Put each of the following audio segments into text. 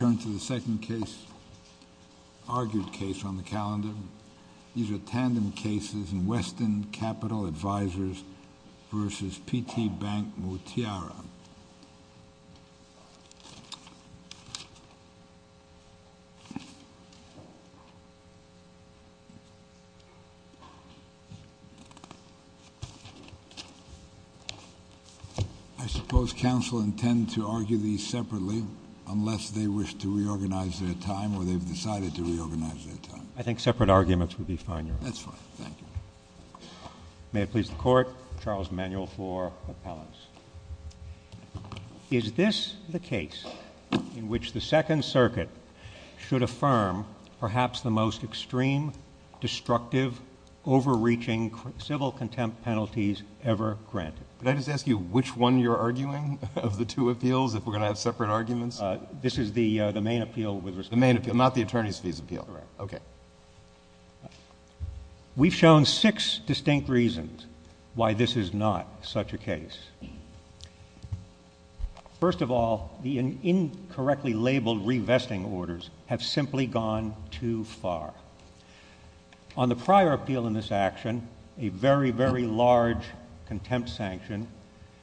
I turn to the second case, argued case on the calendar. These are tandem cases in Weston Capital Advisors v. P.T. Bank Motiara. I suppose counsel intend to argue these separately unless they wish to reorganize their time or they've decided to reorganize their time. I think separate arguments would be fine, Your Honor. That's fine. Thank you. May it please the Court, Charles Emanuel for appellants. Is this the case in which the Second Circuit should affirm perhaps the most extreme, destructive, overreaching civil contempt penalties ever granted? Can I just ask you which one you're arguing of the two appeals, if we're going to have separate arguments? This is the main appeal with respect to— The main appeal, not the attorney's fees appeal. Correct. Okay. We've shown six distinct reasons why this is not such a case. First of all, the incorrectly labeled revesting orders have simply gone too far. On the prior appeal in this action, a very, very large contempt sanction,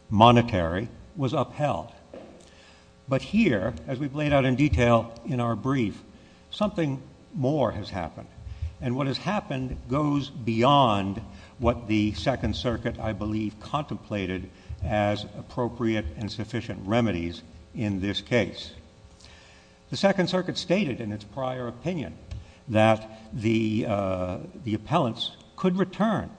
monetary, was upheld. But here, as we've laid out in detail in our brief, something more has happened, and what has happened goes beyond what the Second Circuit, I believe, contemplated as appropriate and sufficient remedies in this case. The Second Circuit stated in its prior opinion that the appellants could return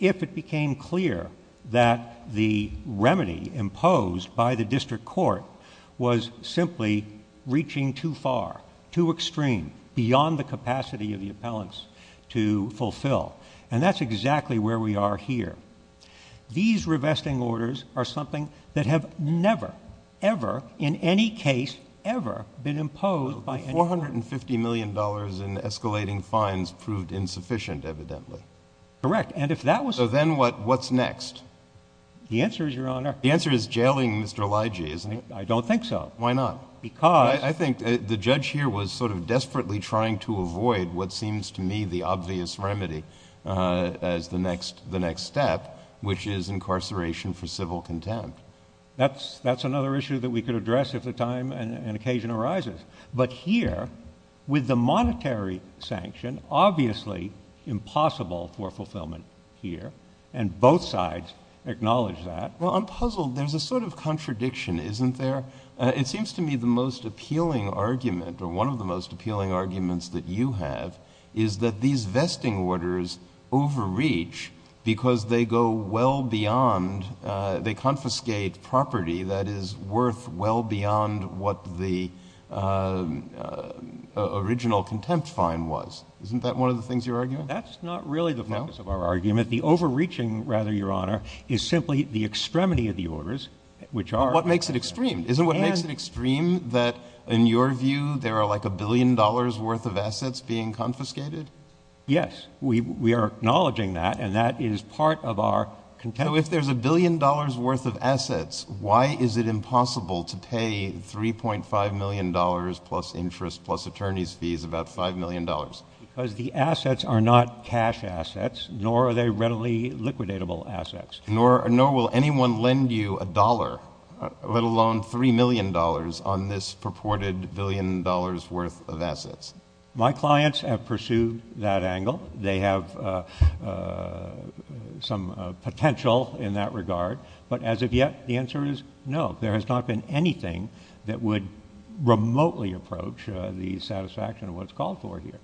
if it became clear that the remedy imposed by the district court was simply reaching too far, too extreme, beyond the capacity of the appellants to fulfill. And that's exactly where we are here. These revesting orders are something that have never, ever in any case, ever been imposed by any court. $450 million in escalating fines proved insufficient, evidently. Correct. So then what's next? The answer is, Your Honor. The answer is jailing Mr. Elijah, isn't it? I don't think so. Why not? Because. I think the judge here was sort of desperately trying to avoid what seems to me the obvious remedy as the next step, which is incarceration for civil contempt. That's another issue that we could address if the time and occasion arises. But here, with the monetary sanction, obviously impossible for fulfillment here. And both sides acknowledge that. Well, I'm puzzled. There's a sort of contradiction, isn't there? It seems to me the most appealing argument, or one of the most appealing arguments that you have, is that these vesting orders overreach because they go well beyond, they confiscate property that is worth well beyond what the original contempt fine was. Isn't that one of the things you're arguing? That's not really the focus of our argument. The overreaching, rather, Your Honor, is simply the extremity of the orders, which are. Well, what makes it extreme? Isn't what makes it extreme that, in your view, there are like a billion dollars worth of assets being confiscated? Yes. We are acknowledging that. And that is part of our contempt. So if there's a billion dollars worth of assets, why is it impossible to pay $3.5 million plus interest plus attorney's fees, about $5 million? Because the assets are not cash assets, nor are they readily liquidatable assets. Nor will anyone lend you a dollar, let alone $3 million, on this purported billion dollars worth of assets. My clients have pursued that angle. They have some potential in that regard. But as of yet, the answer is no. There has not been anything that would remotely approach the satisfaction of what's called for here.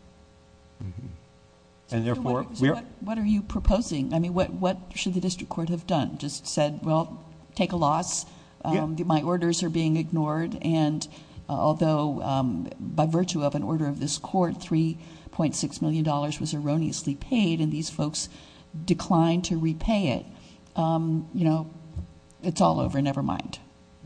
So what are you proposing? I mean, what should the district court have done? Just said, well, take a loss. My orders are being ignored. And although by virtue of an order of this court, $3.6 million was erroneously paid, and these folks declined to repay it, you know, it's all over, never mind.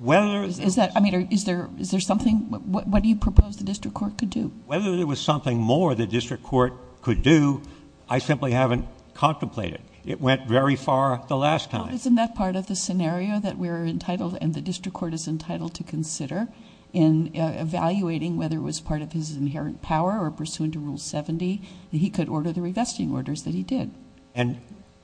Is there something? What do you propose the district court could do? Whether there was something more the district court could do, I simply haven't contemplated. It went very far the last time. But isn't that part of the scenario that we're entitled and the district court is entitled to consider in evaluating whether it was part of his inherent power or pursuant to Rule 70, that he could order the revesting orders that he did? And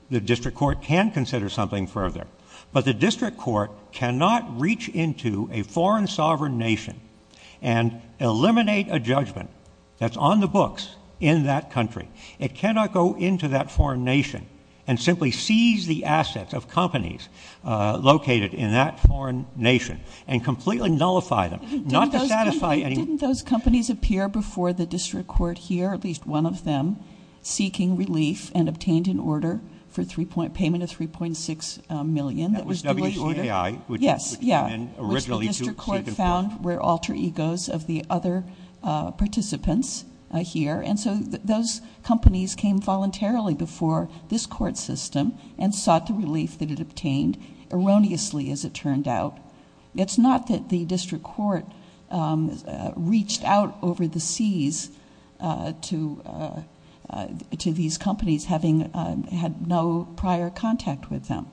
the district court can consider something further. But the district court cannot reach into a foreign sovereign nation and eliminate a judgment that's on the books in that country. It cannot go into that foreign nation and simply seize the assets of companies located in that foreign nation and completely nullify them, not to satisfy any ---- Didn't those companies appear before the district court here, at least one of them, seeking relief and obtained an order for payment of $3.6 million that was due in order? That was WHAI, which came in originally to seek enforcement. Yes, which the district court found were alter egos of the other participants here. And so those companies came voluntarily before this court system and sought the relief that it obtained erroneously, as it turned out. It's not that the district court reached out over the seas to these companies having had no prior contact with them.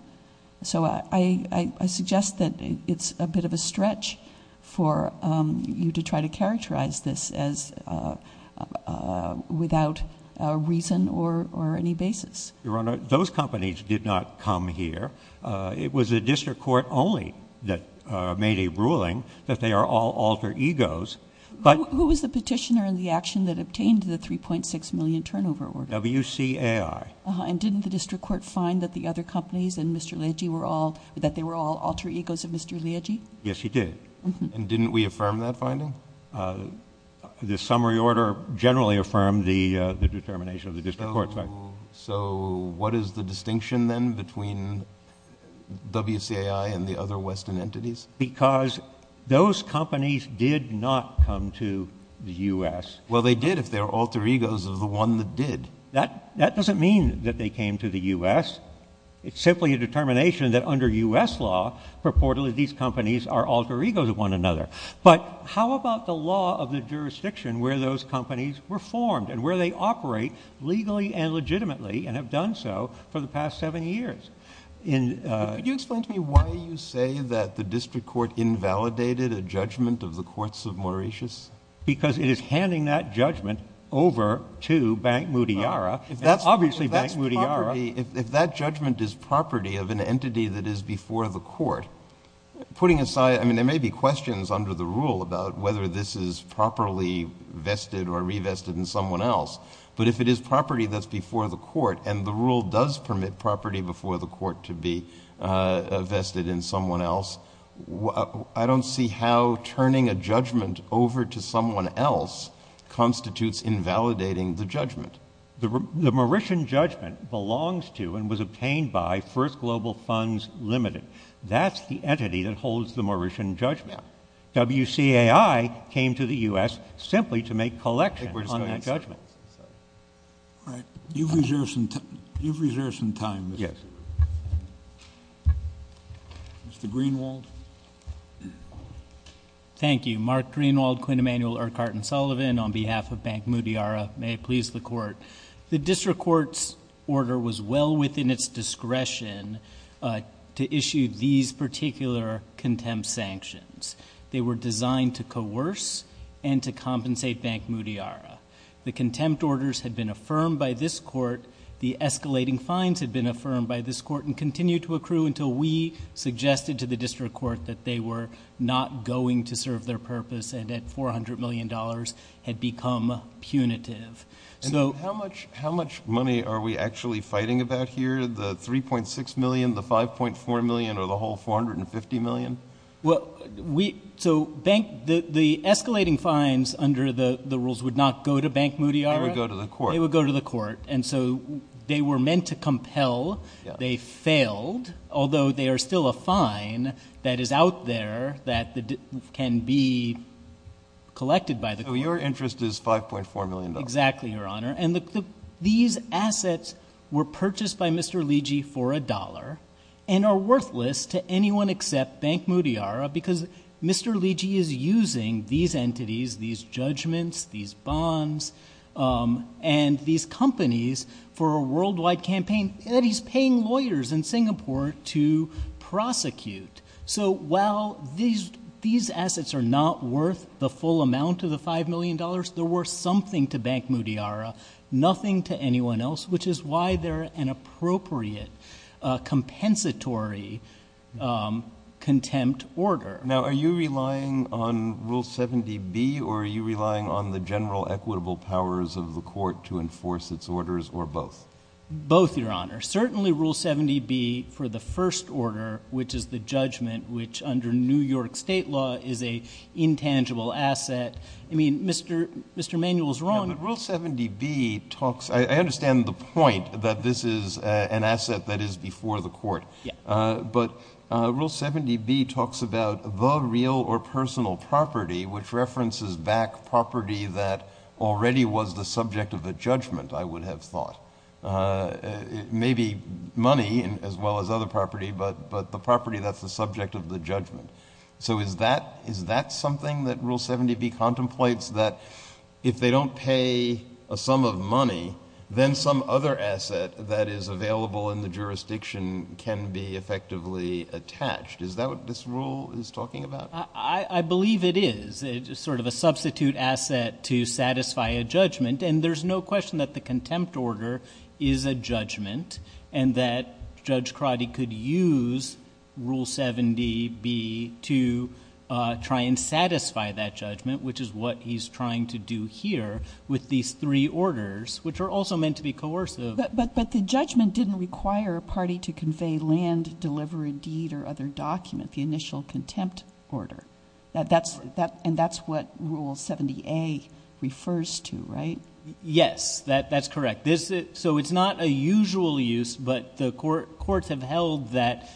So I suggest that it's a bit of a stretch for you to try to characterize this as without reason or any basis. Your Honor, those companies did not come here. It was the district court only that made a ruling that they are all alter egos. Who was the petitioner in the action that obtained the $3.6 million turnover order? WCAI. And didn't the district court find that the other companies and Mr. Liagi were all, that they were all alter egos of Mr. Liagi? Yes, he did. And didn't we affirm that finding? The summary order generally affirmed the determination of the district court. So what is the distinction then between WCAI and the other Western entities? Because those companies did not come to the U.S. Well, they did if they were alter egos of the one that did. That doesn't mean that they came to the U.S. It's simply a determination that under U.S. law purportedly these companies are alter egos of one another. But how about the law of the jurisdiction where those companies were formed and where they operate legally and legitimately and have done so for the past seven years? Could you explain to me why you say that the district court invalidated a judgment of the courts of Mauritius? Because it is handing that judgment over to Bank Mutiara. Obviously, Bank Mutiara. If that judgment is property of an entity that is before the court, putting aside, I mean, there may be questions under the rule about whether this is properly vested or revested in someone else. But if it is property that's before the court and the rule does permit property before the court to be vested in someone else, I don't see how turning a judgment over to someone else constitutes invalidating the judgment. The Mauritian judgment belongs to and was obtained by First Global Funds Limited. That's the entity that holds the Mauritian judgment. WCAI came to the U.S. simply to make collection on that judgment. All right. You've reserved some time. Yes. Mr. Greenwald. Thank you. Mark Greenwald, Quinn Emanuel, Urquhart & Sullivan on behalf of Bank Mutiara. May it please the court. The district court's order was well within its discretion to issue these particular contempt sanctions. They were designed to coerce and to compensate Bank Mutiara. The contempt orders had been affirmed by this court. The escalating fines had been affirmed by this court and continued to accrue until we suggested to the district court that they were not going to serve their purpose and that $400 million had become punitive. How much money are we actually fighting about here, the $3.6 million, the $5.4 million, or the whole $450 million? The escalating fines under the rules would not go to Bank Mutiara. They would go to the court. And so they were meant to compel. They failed, although they are still a fine that is out there that can be collected by the court. So your interest is $5.4 million? Exactly, Your Honor. And these assets were purchased by Mr. Liji for $1 and are worthless to anyone except Bank Mutiara because Mr. Liji is using these entities, these judgments, these bonds, and these companies for a worldwide campaign that he's paying lawyers in Singapore to prosecute. So while these assets are not worth the full amount of the $5 million, they're worth something to Bank Mutiara, nothing to anyone else, which is why they're an appropriate compensatory contempt order. Now, are you relying on Rule 70B or are you relying on the general equitable powers of the court to enforce its orders or both? Both, Your Honor. Certainly Rule 70B for the first order, which is the judgment, which under New York State law is an intangible asset. I mean, Mr. Manuel's wrong. Yeah, but Rule 70B talks – I understand the point that this is an asset that is before the court. Yeah. But Rule 70B talks about the real or personal property, which references back property that already was the subject of a judgment, I would have thought. It may be money as well as other property, but the property that's the subject of the judgment. So is that something that Rule 70B contemplates, that if they don't pay a sum of money, then some other asset that is available in the jurisdiction can be effectively attached? Is that what this rule is talking about? I believe it is. It's sort of a substitute asset to satisfy a judgment, and there's no question that the contempt order is a judgment and that Judge Crotty could use Rule 70B to try and satisfy that judgment, which is what he's trying to do here with these three orders, which are also meant to be coercive. But the judgment didn't require a party to convey land, deliver a deed, or other document, the initial contempt order. And that's what Rule 70A refers to, right? Yes. That's correct. So it's not a usual use, but the courts have held that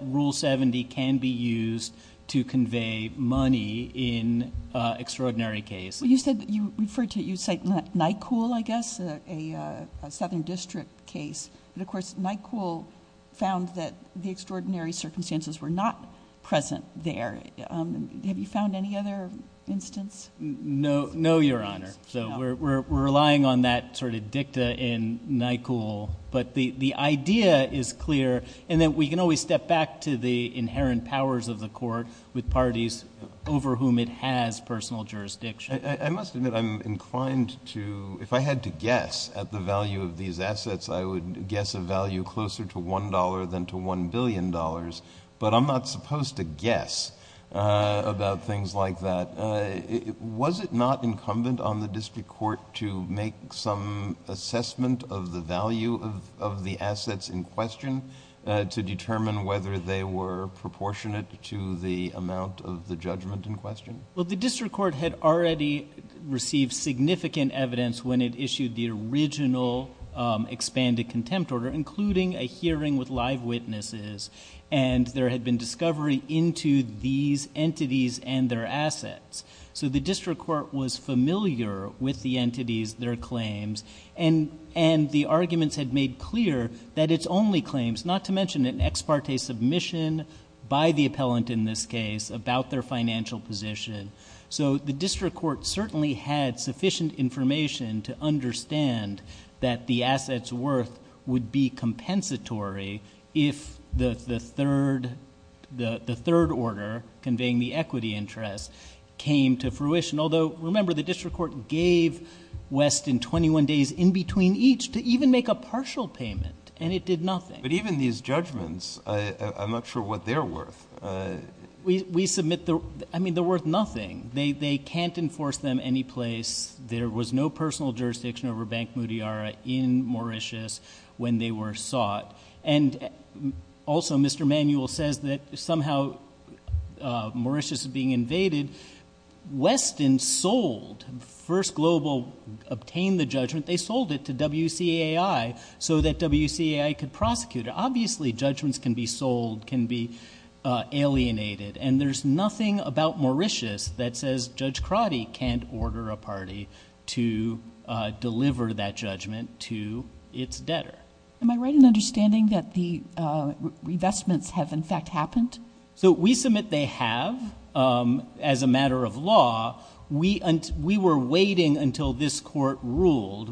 Rule 70 can be used to convey money in extraordinary cases. You said you referred to, you cite Nyquil, I guess, a southern district case. But, of course, Nyquil found that the extraordinary circumstances were not present there. Have you found any other instance? No, Your Honor. So we're relying on that sort of dicta in Nyquil. But the idea is clear in that we can always step back to the inherent powers of the court with parties over whom it has personal jurisdiction. I must admit I'm inclined to, if I had to guess at the value of these assets, I would guess a value closer to $1 than to $1 billion. But I'm not supposed to guess about things like that. Was it not incumbent on the district court to make some assessment of the value of the assets in question to determine whether they were proportionate to the amount of the judgment in question? Well, the district court had already received significant evidence when it issued the original expanded contempt order, including a hearing with live witnesses, and there had been discovery into these entities and their assets. So the district court was familiar with the entities, their claims, and the arguments had made clear that it's only claims, not to mention an ex parte submission by the appellant in this case about their financial position. So the district court certainly had sufficient information to understand that the assets' worth would be compensatory if the third order conveying the equity interest came to fruition. Although, remember, the district court gave Weston 21 days in between each to even make a partial payment, and it did nothing. But even these judgments, I'm not sure what they're worth. I mean, they're worth nothing. They can't enforce them anyplace. There was no personal jurisdiction over Bank Mudiara in Mauritius when they were sought. And also Mr. Manuel says that somehow Mauritius is being invaded. Weston sold first global, obtained the judgment. They sold it to WCAI so that WCAI could prosecute it. Obviously judgments can be sold, can be alienated, and there's nothing about Mauritius that says Judge Crotty can't order a party to deliver that judgment to its debtor. Am I right in understanding that the revestments have in fact happened? So we submit they have as a matter of law. We were waiting until this court ruled.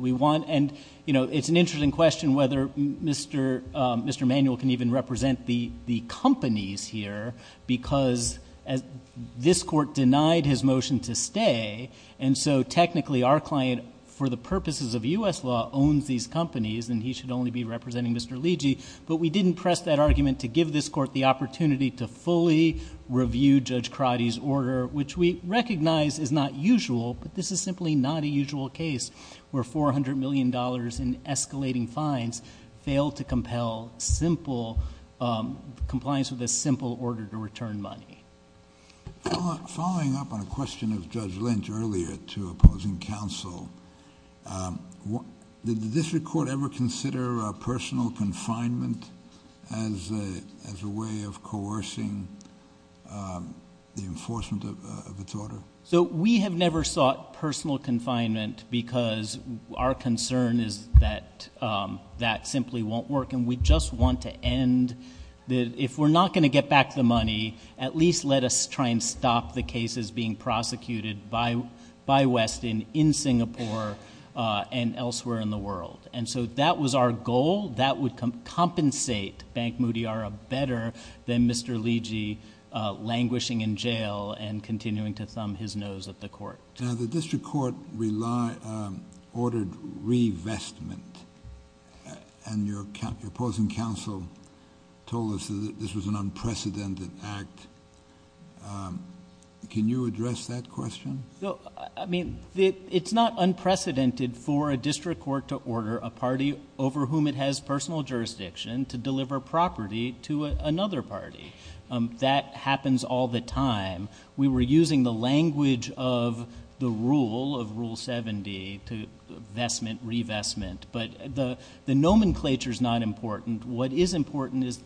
And, you know, it's an interesting question whether Mr. Manuel can even represent the companies here because this court denied his motion to stay. And so technically our client, for the purposes of U.S. law, owns these companies, and he should only be representing Mr. Ligi. But we didn't press that argument to give this court the opportunity to fully review Judge Crotty's order, which we recognize is not usual, but this is simply not a usual case where $400 million in escalating fines failed to compel compliance with a simple order to return money. Following up on a question of Judge Lynch earlier to opposing counsel, did the district court ever consider personal confinement as a way of coercing the enforcement of its order? So we have never sought personal confinement because our concern is that that simply won't work. And we just want to end that if we're not going to get back the money, at least let us try and stop the cases being prosecuted by Westin in Singapore and elsewhere in the world. And so that was our goal. That would compensate Bank Mudiara better than Mr. Ligi languishing in jail and continuing to thumb his nose at the court. Now, the district court ordered revestment, and your opposing counsel told us that this was an unprecedented act. Can you address that question? I mean, it's not unprecedented for a district court to order a party over whom it has personal jurisdiction to deliver property to another party. That happens all the time. We were using the language of the rule, of Rule 70, to vestment, revestment. But the nomenclature is not important. What is important is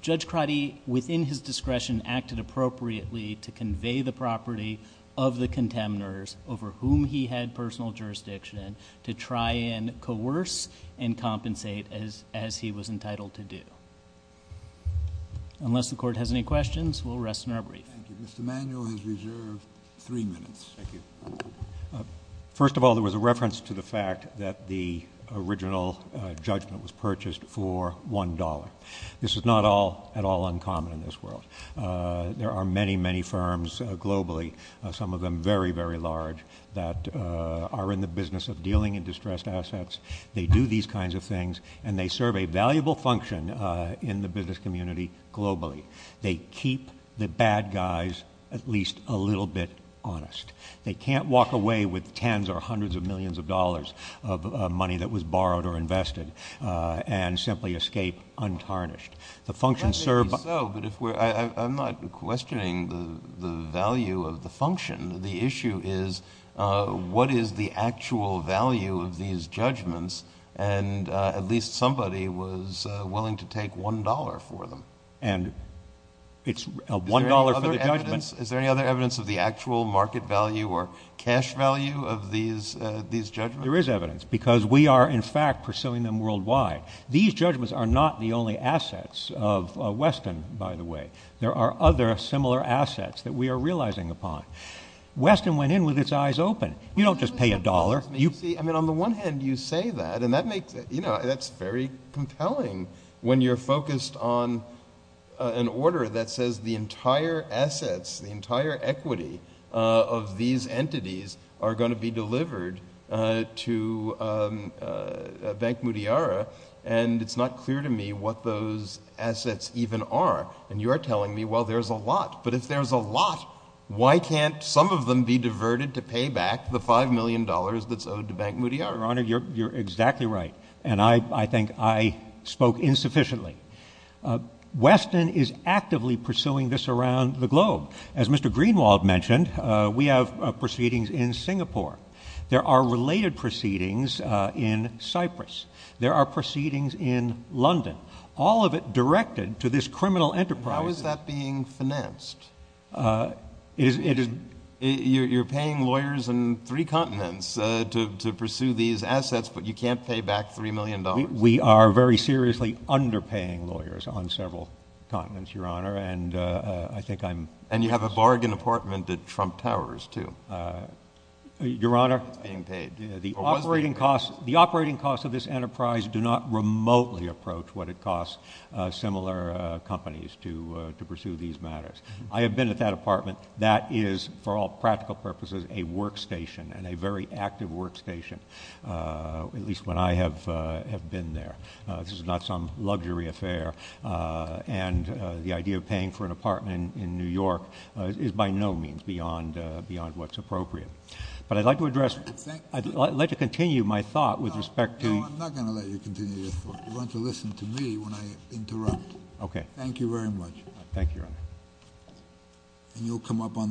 Judge Crotty, within his discretion, acted appropriately to convey the property of the contenders over whom he had personal jurisdiction to try and coerce and compensate as he was entitled to do. Unless the court has any questions, we'll rest in our brief. Thank you. Mr. Manuel has reserved three minutes. Thank you. First of all, there was a reference to the fact that the original judgment was purchased for $1. This is not at all uncommon in this world. There are many, many firms globally, some of them very, very large, that are in the business of dealing in distressed assets. They do these kinds of things, and they serve a valuable function in the business community globally. They keep the bad guys at least a little bit honest. They can't walk away with tens or hundreds of millions of dollars of money that was borrowed or invested and simply escape untarnished. I'm not questioning the value of the function. The issue is what is the actual value of these judgments, and at least somebody was willing to take $1 for them. And it's $1 for the judgment. Is there any other evidence of the actual market value or cash value of these judgments? There is evidence because we are, in fact, pursuing them worldwide. These judgments are not the only assets of Weston, by the way. There are other similar assets that we are realizing upon. Weston went in with its eyes open. You don't just pay $1. On the one hand, you say that, and that's very compelling when you're focused on an order that says the entire assets, the entire equity of these entities are going to be delivered to Bank Mudiara, and it's not clear to me what those assets even are. And you're telling me, well, there's a lot. But if there's a lot, why can't some of them be diverted to pay back the $5 million that's owed to Bank Mudiara? Your Honor, you're exactly right, and I think I spoke insufficiently. Weston is actively pursuing this around the globe. As Mr. Greenwald mentioned, we have proceedings in Singapore. There are related proceedings in Cyprus. There are proceedings in London. All of it directed to this criminal enterprise. How is that being financed? You're paying lawyers in three continents to pursue these assets, but you can't pay back $3 million. We are very seriously underpaying lawyers on several continents, Your Honor, and I think I'm— And you have a bargain apartment at Trump Towers, too. Your Honor— It's being paid. The operating costs of this enterprise do not remotely approach what it costs similar companies to pursue these matters. I have been at that apartment. That is, for all practical purposes, a workstation and a very active workstation, at least when I have been there. This is not some luxury affair, and the idea of paying for an apartment in New York is by no means beyond what's appropriate. But I'd like to address—I'd like to continue my thought with respect to— No, I'm not going to let you continue your thought. You're going to listen to me when I interrupt. Okay. Thank you very much. Thank you, Your Honor. And you'll come up on the next case.